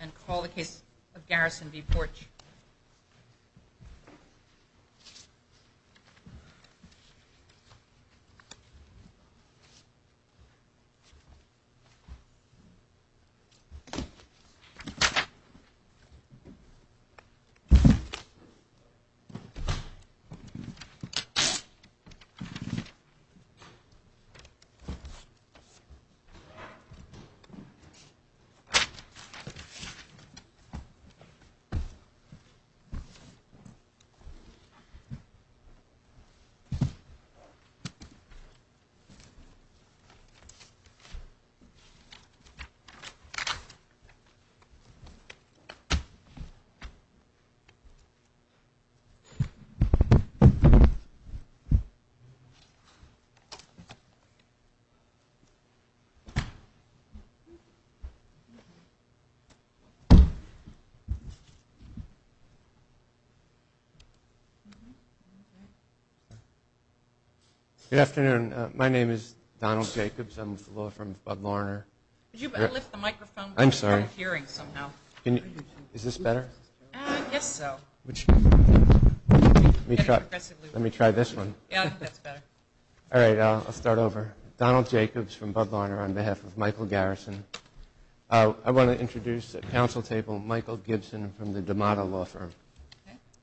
and call the case of Garrison v. Porch. The case of Garrison v. Porch. Good afternoon. My name is Donald Jacobs. I'm with the law firm of Bud Larner. I'll start over. Donald Jacobs from Bud Larner on behalf of Michael Garrison. I want to introduce at council table Michael Gibson from the Damata law firm.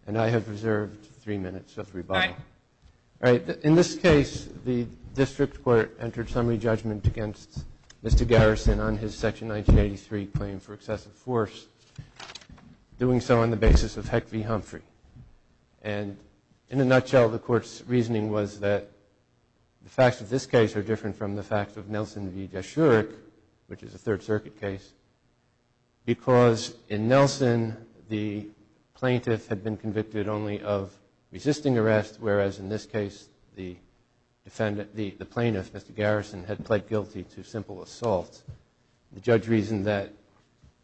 And I have reserved three minutes of rebuttal. In this case, the district court entered summary judgment against Mr. Garrison on his Section 1983 claim for excessive force, doing so on the basis of Heck v. Humphrey. And in a nutshell, the court's reasoning was that the facts of this case are different from the facts of Nelson v. Jaschurek, which is a Third Circuit case, because in Nelson, the plaintiff had been convicted only of resisting arrest, whereas in this case, the plaintiff, Mr. Garrison, had pled guilty to simple assault. The judge reasoned that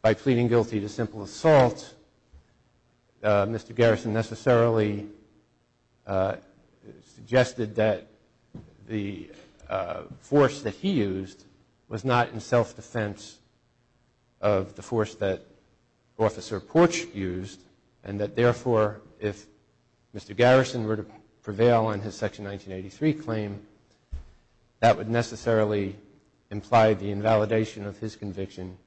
by pleading guilty to simple assault, Mr. Garrison necessarily suggested that the force that he used was not in self-defense of the force that Officer Porch used, and that therefore, if Mr. Garrison were to prevail on his Section 1983 claim, that would necessarily imply the invalidation of his conviction,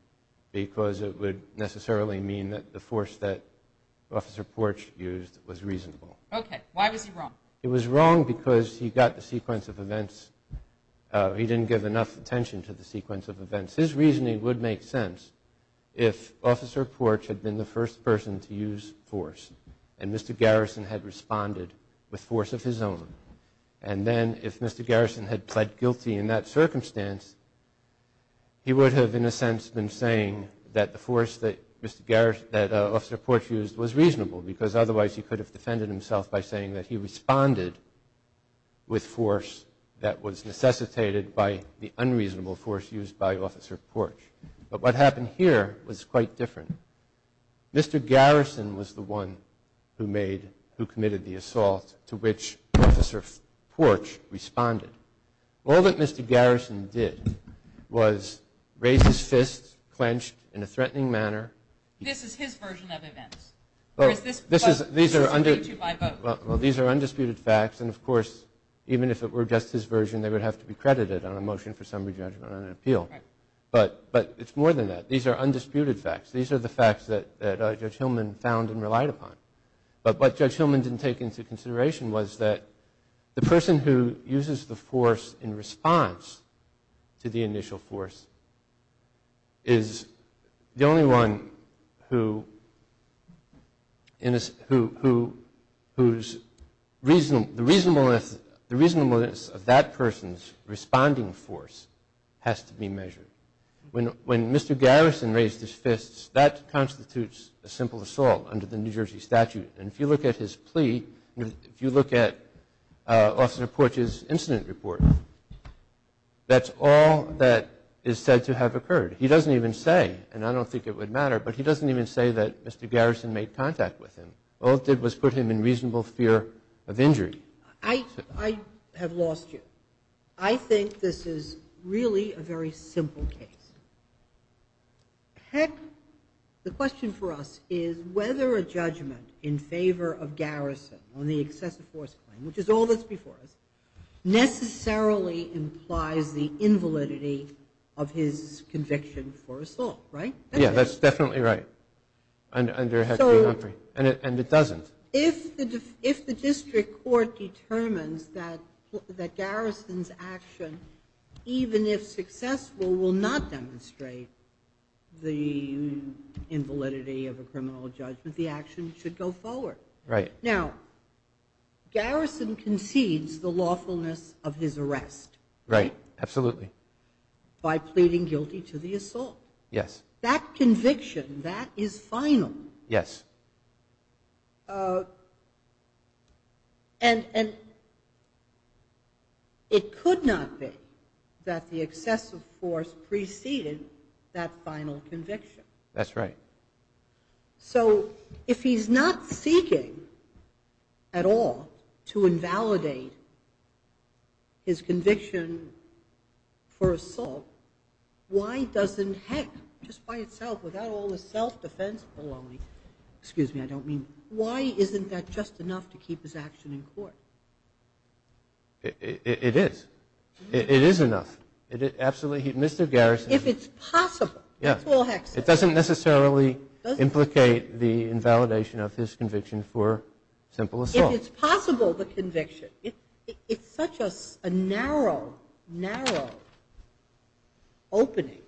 because it would necessarily mean that the force that Officer Porch used was reasonable. Okay. Why was he wrong? It was wrong because he got the sequence of events. He didn't give enough attention to the sequence of events. His reasoning would make sense if Officer Porch had been the first person to use force and Mr. Garrison had responded with force of his own. And then if Mr. Garrison had pled guilty in that circumstance, he would have, in a sense, been saying that the force that Officer Porch used was reasonable, because otherwise he could have defended himself by saying that he responded with force that was necessitated by the unreasonable force used by Officer Porch. But what happened here was quite different. Mr. Garrison was the one who made, who committed the assault to which Officer Porch responded. All that Mr. Garrison did was raise his fist, clenched in a threatening manner. This is his version of events, or is this what he's speaking to by both? Well, these are undisputed facts, and of course, even if it were just his version, they would have to be credited on a motion for summary judgment on an appeal. But it's more than that. These are undisputed facts. These are the facts that Judge Hillman found and relied upon. But what Judge Hillman didn't take into consideration was that the person who uses the force in response to the initial force is the only one whose reasonableness of that person's responding force has to be measured. When Mr. Garrison raised his fists, that constitutes a simple assault under the New Jersey statute. And if you look at his plea, if you look at Officer Porch's incident report, that's all that is said to have occurred. He doesn't even say, and I don't think it would matter, but he doesn't even say that Mr. Garrison made contact with him. All it did was put him in reasonable fear of injury. I have lost you. I think this is really a very simple case. Heck, the question for us is whether a judgment in favor of Garrison on the excessive force claim, which is all that's before us, necessarily implies the invalidity of his conviction for assault, right? Yeah, that's definitely right under Heck v. Humphrey, and it doesn't. If the district court determines that Garrison's action, even if successful, will not demonstrate the invalidity of a criminal judgment, the action should go forward. Now, Garrison concedes the lawfulness of his arrest by pleading guilty to the assault. Yes. That conviction, that is final. Yes. And it could not be that the excessive force preceded that final conviction. That's right. So if he's not seeking at all to invalidate his conviction for assault, why doesn't Heck, just by itself, without all the self-defense baloney, excuse me, I don't mean, why isn't that just enough to keep his action in court? It is. It is enough. Mr. Garrison. If it's possible, that's all Heck says. It doesn't necessarily implicate the invalidation of his conviction for simple assault. If it's possible, the conviction, if such a narrow, narrow opening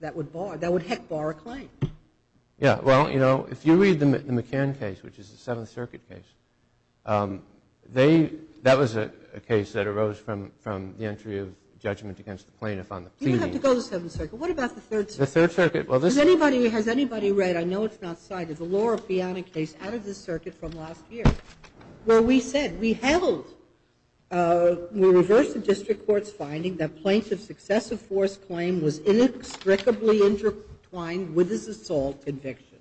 that would bar, that would Heck bar a claim. Yeah, well, you know, if you read the McCann case, which is the Seventh Circuit case, they, that was a case that arose from the entry of judgment against the plaintiff on the pleading. You don't have to go to the Seventh Circuit. What about the Third Circuit? The Third Circuit. Has anybody read, I know it's not cited, the Laura Fianna case out of the circuit from last year, where we said, we held, we reversed the district court's finding that plaintiff's excessive force claim was inextricably intertwined with his assault conviction.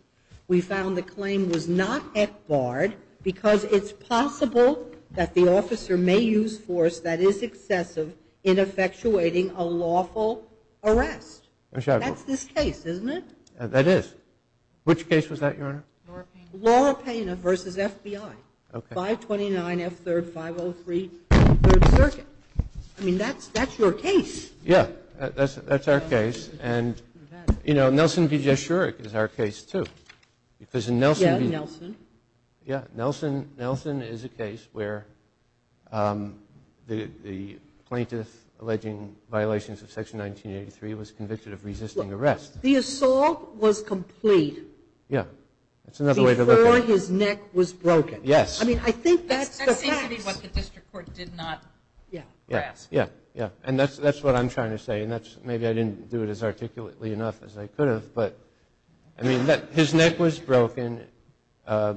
We found the claim was not Heck barred because it's possible that the officer may use force that is excessive in effectuating a lawful arrest. That's this case, isn't it? That is. Which case was that, Your Honor? Laura Fianna versus FBI. Okay. 529 F3rd 503 Third Circuit. I mean, that's your case. Yeah, that's our case. And, you know, Nelson V. Jeschurek is our case, too. Because in Nelson V. Yeah, Nelson. Yeah. Nelson is a case where the plaintiff alleging violations of Section 1983 was convicted of resisting arrest. The assault was complete. Yeah. That's another way to look at it. Before his neck was broken. Yes. I mean, I think that's the facts. That seems to be what the district court did not ask. Yeah. Yeah. Yeah. And that's what I'm trying to say. And maybe I didn't do it as articulately enough as I could have. But, I mean, his neck was broken. The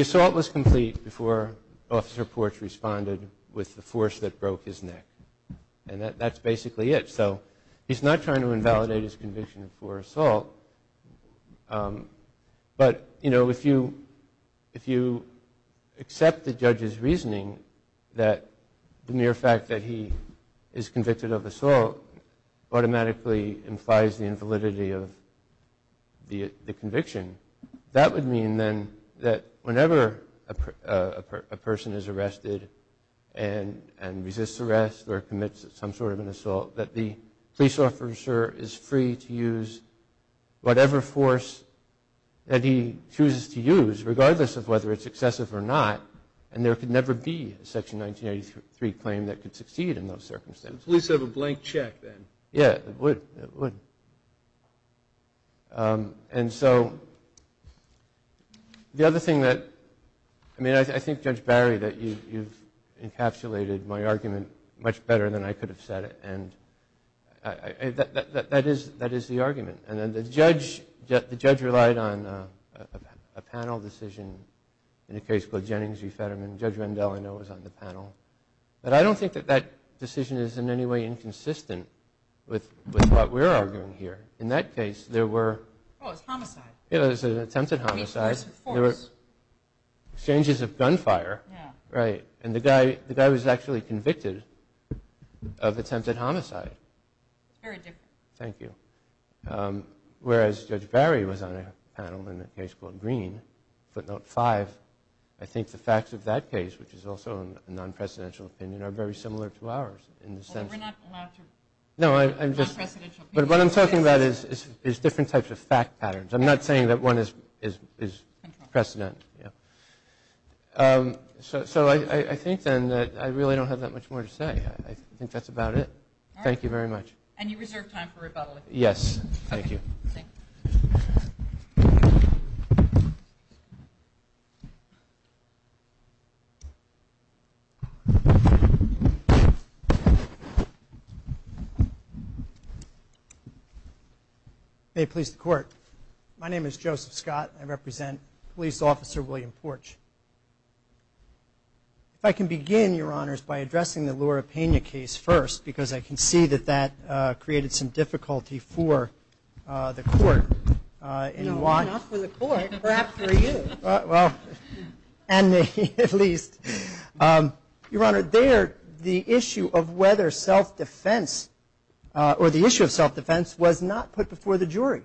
assault was complete before Officer Porch responded with the force that broke his neck. And that's basically it. So he's not trying to invalidate his conviction for assault. But, you know, if you accept the judge's reasoning that the mere fact that he is convicted of assault automatically implies the invalidity of the conviction, that would mean, then, that whenever a person is arrested and resists arrest or commits some sort of an assault, that the police officer is free to use whatever force that he chooses to use, regardless of whether it's excessive or not. And there could never be a Section 1983 claim that could succeed in those circumstances. The police have a blank check, then. Yeah. It would. It would. And so, the other thing that, I mean, I think, Judge Barry, that you've encapsulated my argument much better than I could have said it. And that is the argument. And the judge relied on a panel decision in a case called Jennings v. Fetterman. Judge Rendell, I know, was on the panel. But I don't think that that decision is in any way inconsistent with what we're arguing here. In that case, there were... Oh, it was homicide. It was an attempted homicide. I mean, force. There were exchanges of gunfire. Yeah. Right. And the guy was actually convicted of attempted homicide. Very different. Thank you. Whereas Judge Barry was on a panel in a case called Green, footnote 5. I think the facts of that case, which is also a non-presidential opinion, are very similar to ours in the sense that... Well, we're not allowed to... No, I'm just... Non-presidential opinion. But what I'm talking about is different types of fact patterns. I'm not saying that one is precedent. So I think, then, that I really don't have that much more to say. I think that's about it. Thank you very much. And you reserve time for rebuttal. Yes. Thank you. Thank you. May it please the Court. My name is Joseph Scott. I represent Police Officer William Porch. If I can begin, Your Honors, by addressing the Laura Pena case first, because I can see that that created some difficulty for the Court. Not for the Court. Perhaps for you. Well, and me, at least. Your Honor, there, the issue of whether self-defense, or the issue of self-defense, was not put before the jury.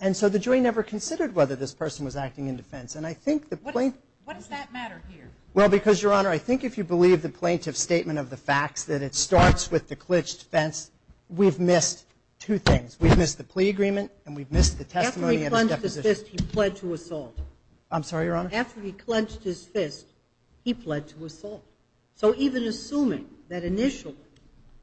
And so the jury never considered whether this person was acting in defense. And I think the plaintiff... What does that matter here? Well, because, Your Honor, I think if you believe the plaintiff's statement of the facts, that it starts with the clitched fence, we've missed two things. We've missed the plea agreement, and we've missed the testimony of his deposition. After he clenched his fist, he pled to assault. I'm sorry, Your Honor? After he clenched his fist, he pled to assault. So even assuming that initially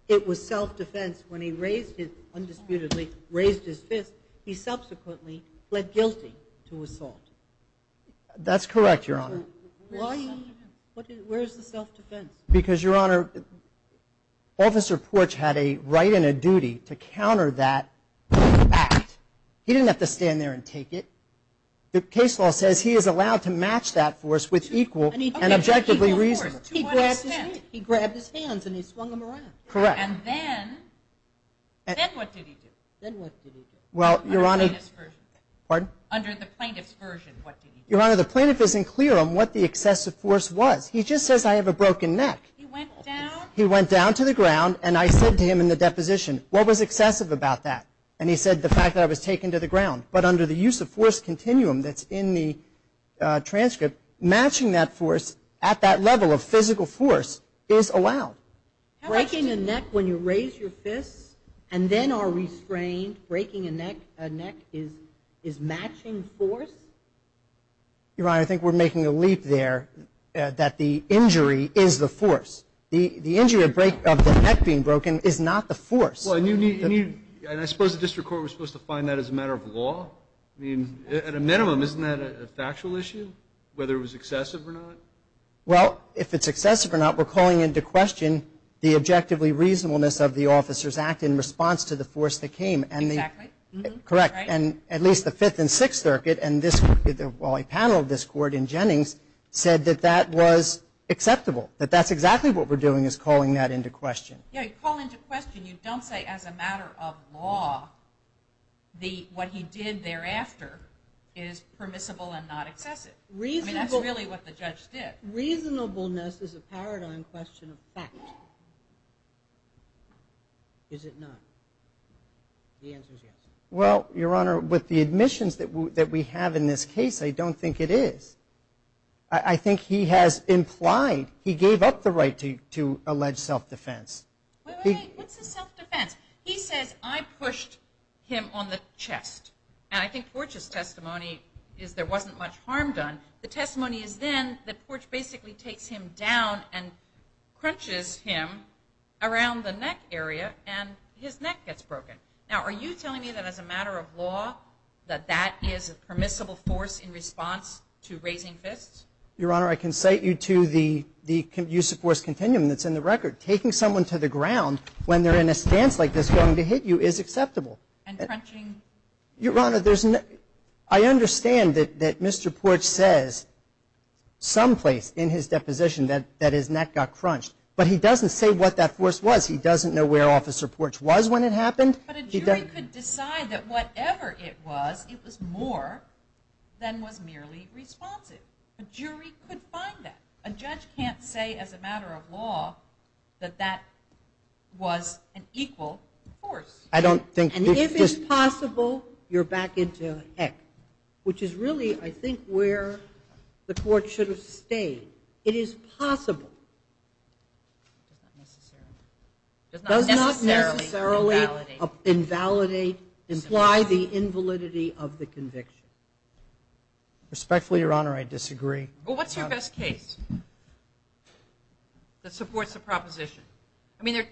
it was self-defense, when he raised his, undisputedly, raised his fist, he subsequently pled guilty to assault. That's correct, Your Honor. Where is the self-defense? Because, Your Honor, Officer Porch had a right and a duty to counter that act. He didn't have to stand there and take it. The case law says he is allowed to match that force with equal and objectively reasonable. He grabbed his hands and he swung them around. Correct. And then what did he do? Well, Your Honor... Under the plaintiff's version. Pardon? Under the plaintiff's version, what did he do? Your Honor, the plaintiff isn't clear on what the excessive force was. He just says, I have a broken neck. He went down? He went down to the ground, and I said to him in the deposition, what was excessive about that? And he said the fact that I was taken to the ground. But under the use of force continuum that's in the transcript, matching that force at that level of physical force is allowed. Breaking a neck when you raise your fist and then are restrained, breaking a neck is matching force? Your Honor, I think we're making a leap there that the injury is the force. The injury of the neck being broken is not the force. And I suppose the district court was supposed to find that as a matter of law? I mean, at a minimum, isn't that a factual issue, whether it was excessive or not? Well, if it's excessive or not, we're calling into question the objectively reasonableness of the officer's act in response to the force that came. Exactly. Correct. And at least the Fifth and Sixth Circuit, and this panel of this court in Jennings, said that that was acceptable, that that's exactly what we're doing is calling that into question. Yeah, you call into question. You don't say as a matter of law what he did thereafter is permissible and not excessive. I mean, that's really what the judge did. Reasonableness is a paradigm question of fact. Is it not? The answer is yes. Well, Your Honor, with the admissions that we have in this case, I don't think it is. I think he has implied, he gave up the right to allege self-defense. Wait, wait, wait. What's a self-defense? He says, I pushed him on the chest. And I think Porch's testimony is there wasn't much harm done. The testimony is then that Porch basically takes him down and crunches him around the neck area and his neck gets broken. Now, are you telling me that as a matter of law that that is a permissible force in response to raising fists? Your Honor, I can cite you to the use of force continuum that's in the record. Taking someone to the ground when they're in a stance like this going to hit you is acceptable. And crunching? Your Honor, I understand that Mr. Porch says someplace in his deposition that his neck got crunched. But he doesn't say what that force was. He doesn't know where Officer Porch was when it happened. But a jury could decide that whatever it was, it was more than was merely responsive. A jury could find that. A judge can't say as a matter of law that that was an equal force. And if it's possible, you're back into heck, which is really, I think, where the court should have stayed. It is possible. It does not necessarily imply the invalidity of the conviction. Respectfully, Your Honor, I disagree. Well, what's your best case that supports the proposition?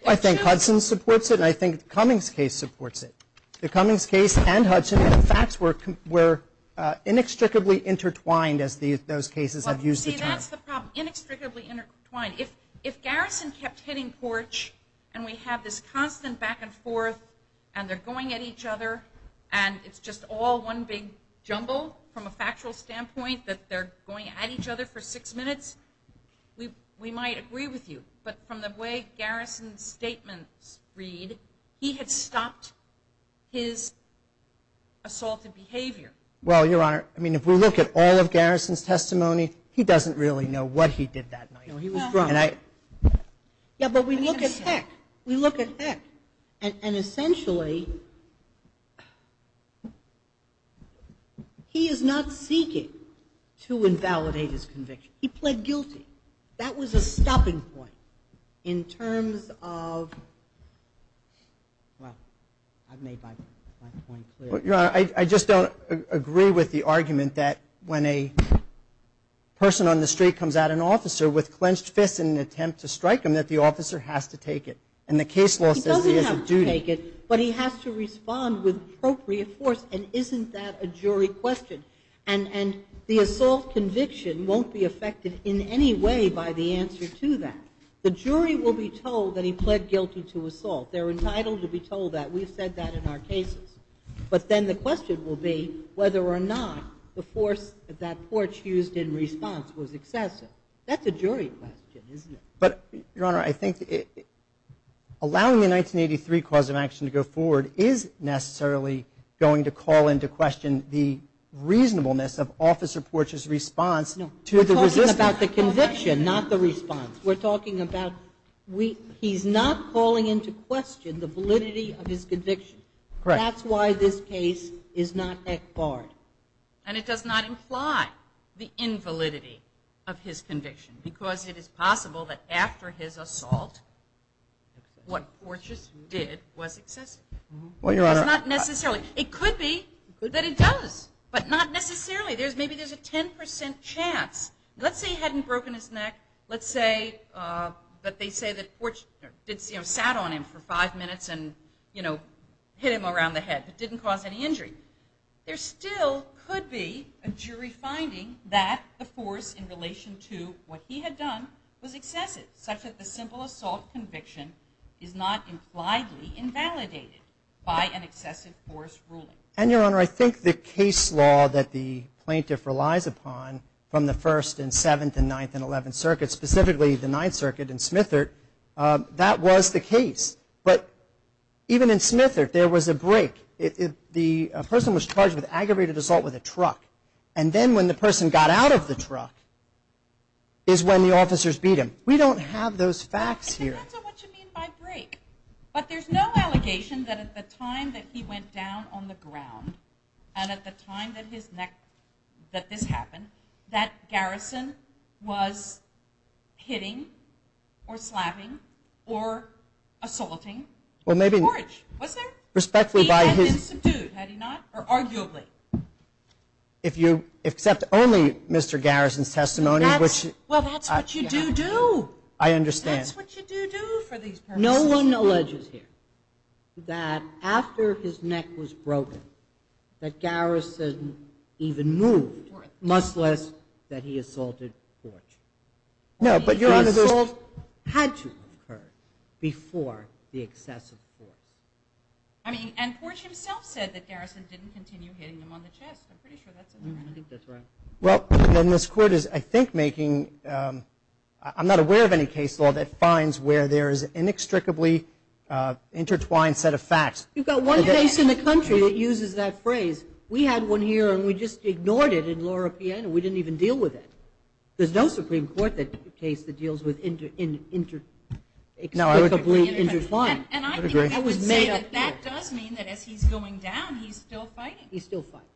I think Hudson supports it, and I think Cummings case supports it. The Cummings case and Hudson, in fact, were inextricably intertwined, as those cases have used the term. See, that's the problem, inextricably intertwined. If Garrison kept hitting Porch, and we have this constant back and forth, and they're going at each other, and it's just all one big jumble from a factual standpoint that they're going at each other for six minutes, we might agree with you. But from the way Garrison's statements read, he had stopped his assaulted behavior. Well, Your Honor, I mean, if we look at all of Garrison's testimony, he doesn't really know what he did that night. No, he was drunk. Yeah, but we look at heck. We look at heck. And essentially, he is not seeking to invalidate his conviction. He pled guilty. That was a stopping point in terms of, well, I've made my point clear. Your Honor, I just don't agree with the argument that when a person on the street comes at an officer with clenched fists in an attempt to strike him, that the officer has to take it. And the case law says he has a duty. He doesn't have to take it, but he has to respond with appropriate force, and isn't that a jury question? And the assault conviction won't be affected in any way by the answer to that. The jury will be told that he pled guilty to assault. They're entitled to be told that. We've said that in our cases. But then the question will be whether or not the force that porch used in response was excessive. That's a jury question, isn't it? But, Your Honor, I think allowing the 1983 cause of action to go forward is necessarily going to call into question the reasonableness of Officer Porch's response to the resistance. No, we're talking about the conviction, not the response. We're talking about he's not calling into question the validity of his conviction. That's why this case is not barred. And it does not imply the invalidity of his conviction, because it is possible that after his assault what Porch just did was excessive. It's not necessarily. It could be that it does, but not necessarily. Maybe there's a 10% chance. Let's say he hadn't broken his neck. Let's say that they say that Porch sat on him for five minutes and hit him around the head but didn't cause any injury. There still could be a jury finding that the force in relation to what he had done was excessive, such that the simple assault conviction is not impliedly invalidated by an excessive force ruling. And, Your Honor, I think the case law that the plaintiff relies upon from the 1st and 7th and 9th and 11th Circuits, specifically the 9th Circuit in Smithert, that was the case. But even in Smithert there was a break. The person was charged with aggravated assault with a truck. And then when the person got out of the truck is when the officers beat him. We don't have those facts here. And that's not what you mean by break. But there's no allegation that at the time that he went down on the ground and at the time that this happened, that Garrison was hitting or slapping or assaulting Porch. Was there? He had been subdued, had he not? Or arguably? If you accept only Mr. Garrison's testimony. Well, that's what you do do. I understand. That's what you do do for these purposes. No one alleges here that after his neck was broken that Garrison even moved, much less that he assaulted Porch. The assault had to have occurred before the excessive force. I mean, and Porch himself said that Garrison didn't continue hitting him on the chest. I'm pretty sure that's incorrect. I think that's right. Well, then this Court is, I think, making, I'm not aware of any case law that finds where there is an inextricably intertwined set of facts. You've got one case in the country that uses that phrase. We had one here and we just ignored it in Laura Piena. We didn't even deal with it. There's no Supreme Court case that deals with inextricably intertwined. And I think I would say that that does mean that as he's going down, he's still fighting. He's still fighting.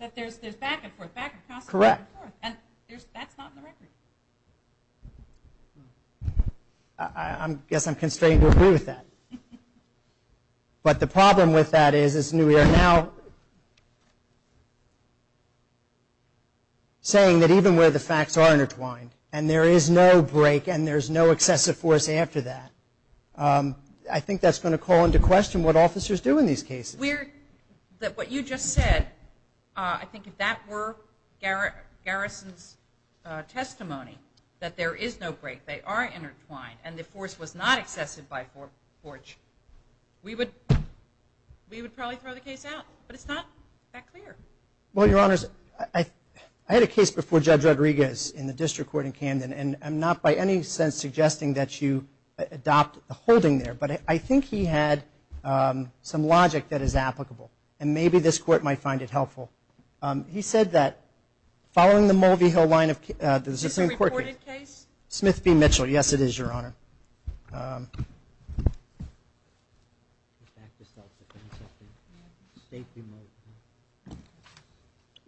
That there's back and forth, back and forth. Correct. And that's not in the record. I guess I'm constrained to agree with that. But the problem with that is we are now saying that even where the facts are intertwined and there is no break and there's no excessive force after that, I think that's going to call into question what officers do in these cases. What you just said, I think if that were Garrison's testimony, that there is no break, they are intertwined and the force was not excessive by force, we would probably throw the case out. But it's not that clear. Well, Your Honors, I had a case before Judge Rodriguez in the District Court in Camden and I'm not by any sense suggesting that you adopt the holding there. But I think he had some logic that is applicable. And maybe this Court might find it helpful. He said that following the Mulvey Hill line of... Is this a recorded case? Smith v. Mitchell. Yes, it is, Your Honor.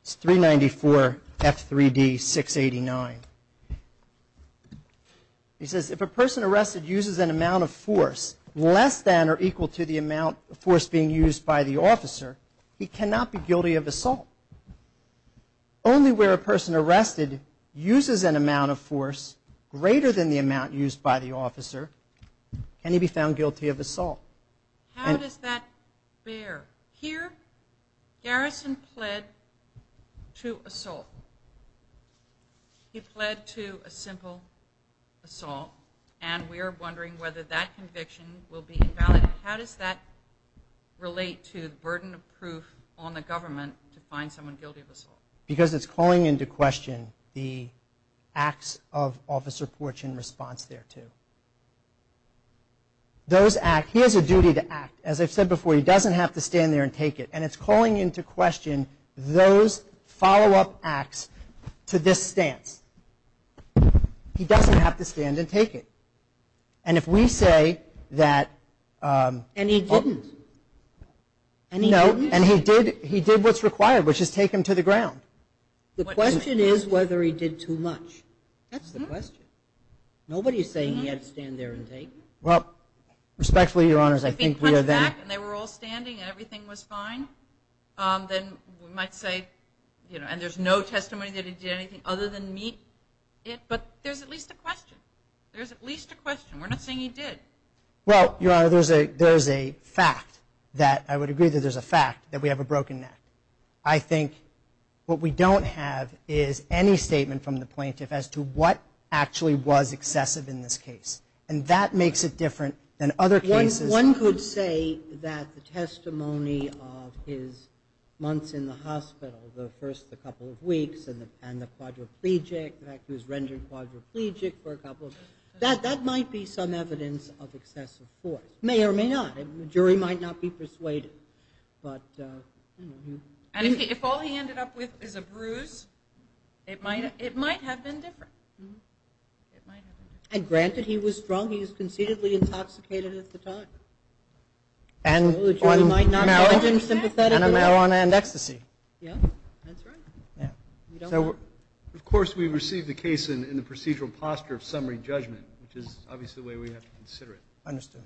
It's 394 F3D 689. He says, if a person arrested uses an amount of force less than or equal to the amount of force being used by the officer, he cannot be guilty of assault. Only where a person arrested uses an amount of force greater than the amount used by the officer can he be found guilty of assault. How does that bear? Here, Garrison pled to assault. He pled to a simple assault. And we are wondering whether that conviction will be invalid. How does that relate to the burden of proof on the government to find someone guilty of assault? Because it's calling into question the acts of Officer Porch in response thereto. He has a duty to act. As I've said before, he doesn't have to stand there and take it. And it's calling into question those follow-up acts to this stance. He doesn't have to stand and take it. And if we say that... And he didn't. And he did what's required, which is take him to the ground. The question is whether he did too much. That's the question. Nobody's saying he had to stand there and take. Well, respectfully, Your Honors, I think we are then... Then we might say, you know, and there's no testimony that he did anything other than meet it. But there's at least a question. There's at least a question. We're not saying he did. Well, Your Honor, there's a fact that I would agree that there's a fact, that we have a broken neck. I think what we don't have is any statement from the plaintiff as to what actually was excessive in this case. And that makes it different than other cases. One could say that the testimony of his months in the hospital, the first couple of weeks, and the quadriplegic, the fact he was rendered quadriplegic for a couple of weeks, that might be some evidence of excessive force. It may or may not. The jury might not be persuaded. And if all he ended up with is a bruise, it might have been different. And granted, he was drunk. He was conceitedly intoxicated at the time. And marijuana and ecstasy. Yeah, that's right. Of course, we received the case in the procedural posture of summary judgment, which is obviously the way we have to consider it. Understood.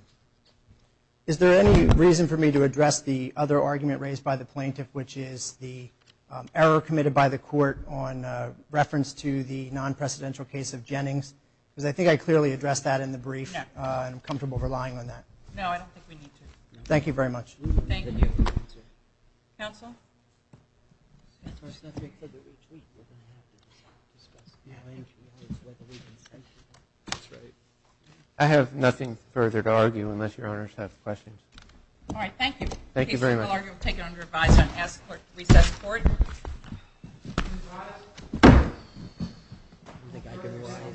Is there any reason for me to address the other argument raised by the plaintiff, which is the error committed by the court on reference to the non-precedential case of Jennings? Because I think I clearly addressed that in the brief, and I'm comfortable relying on that. No, I don't think we need to. Thank you very much. Thank you. Counsel? I have nothing further to argue unless Your Honors have questions. All right. Thank you. Thank you very much. Thank you. Thank you very much. We will take it under revised on reset support. Thank you.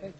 Thank you.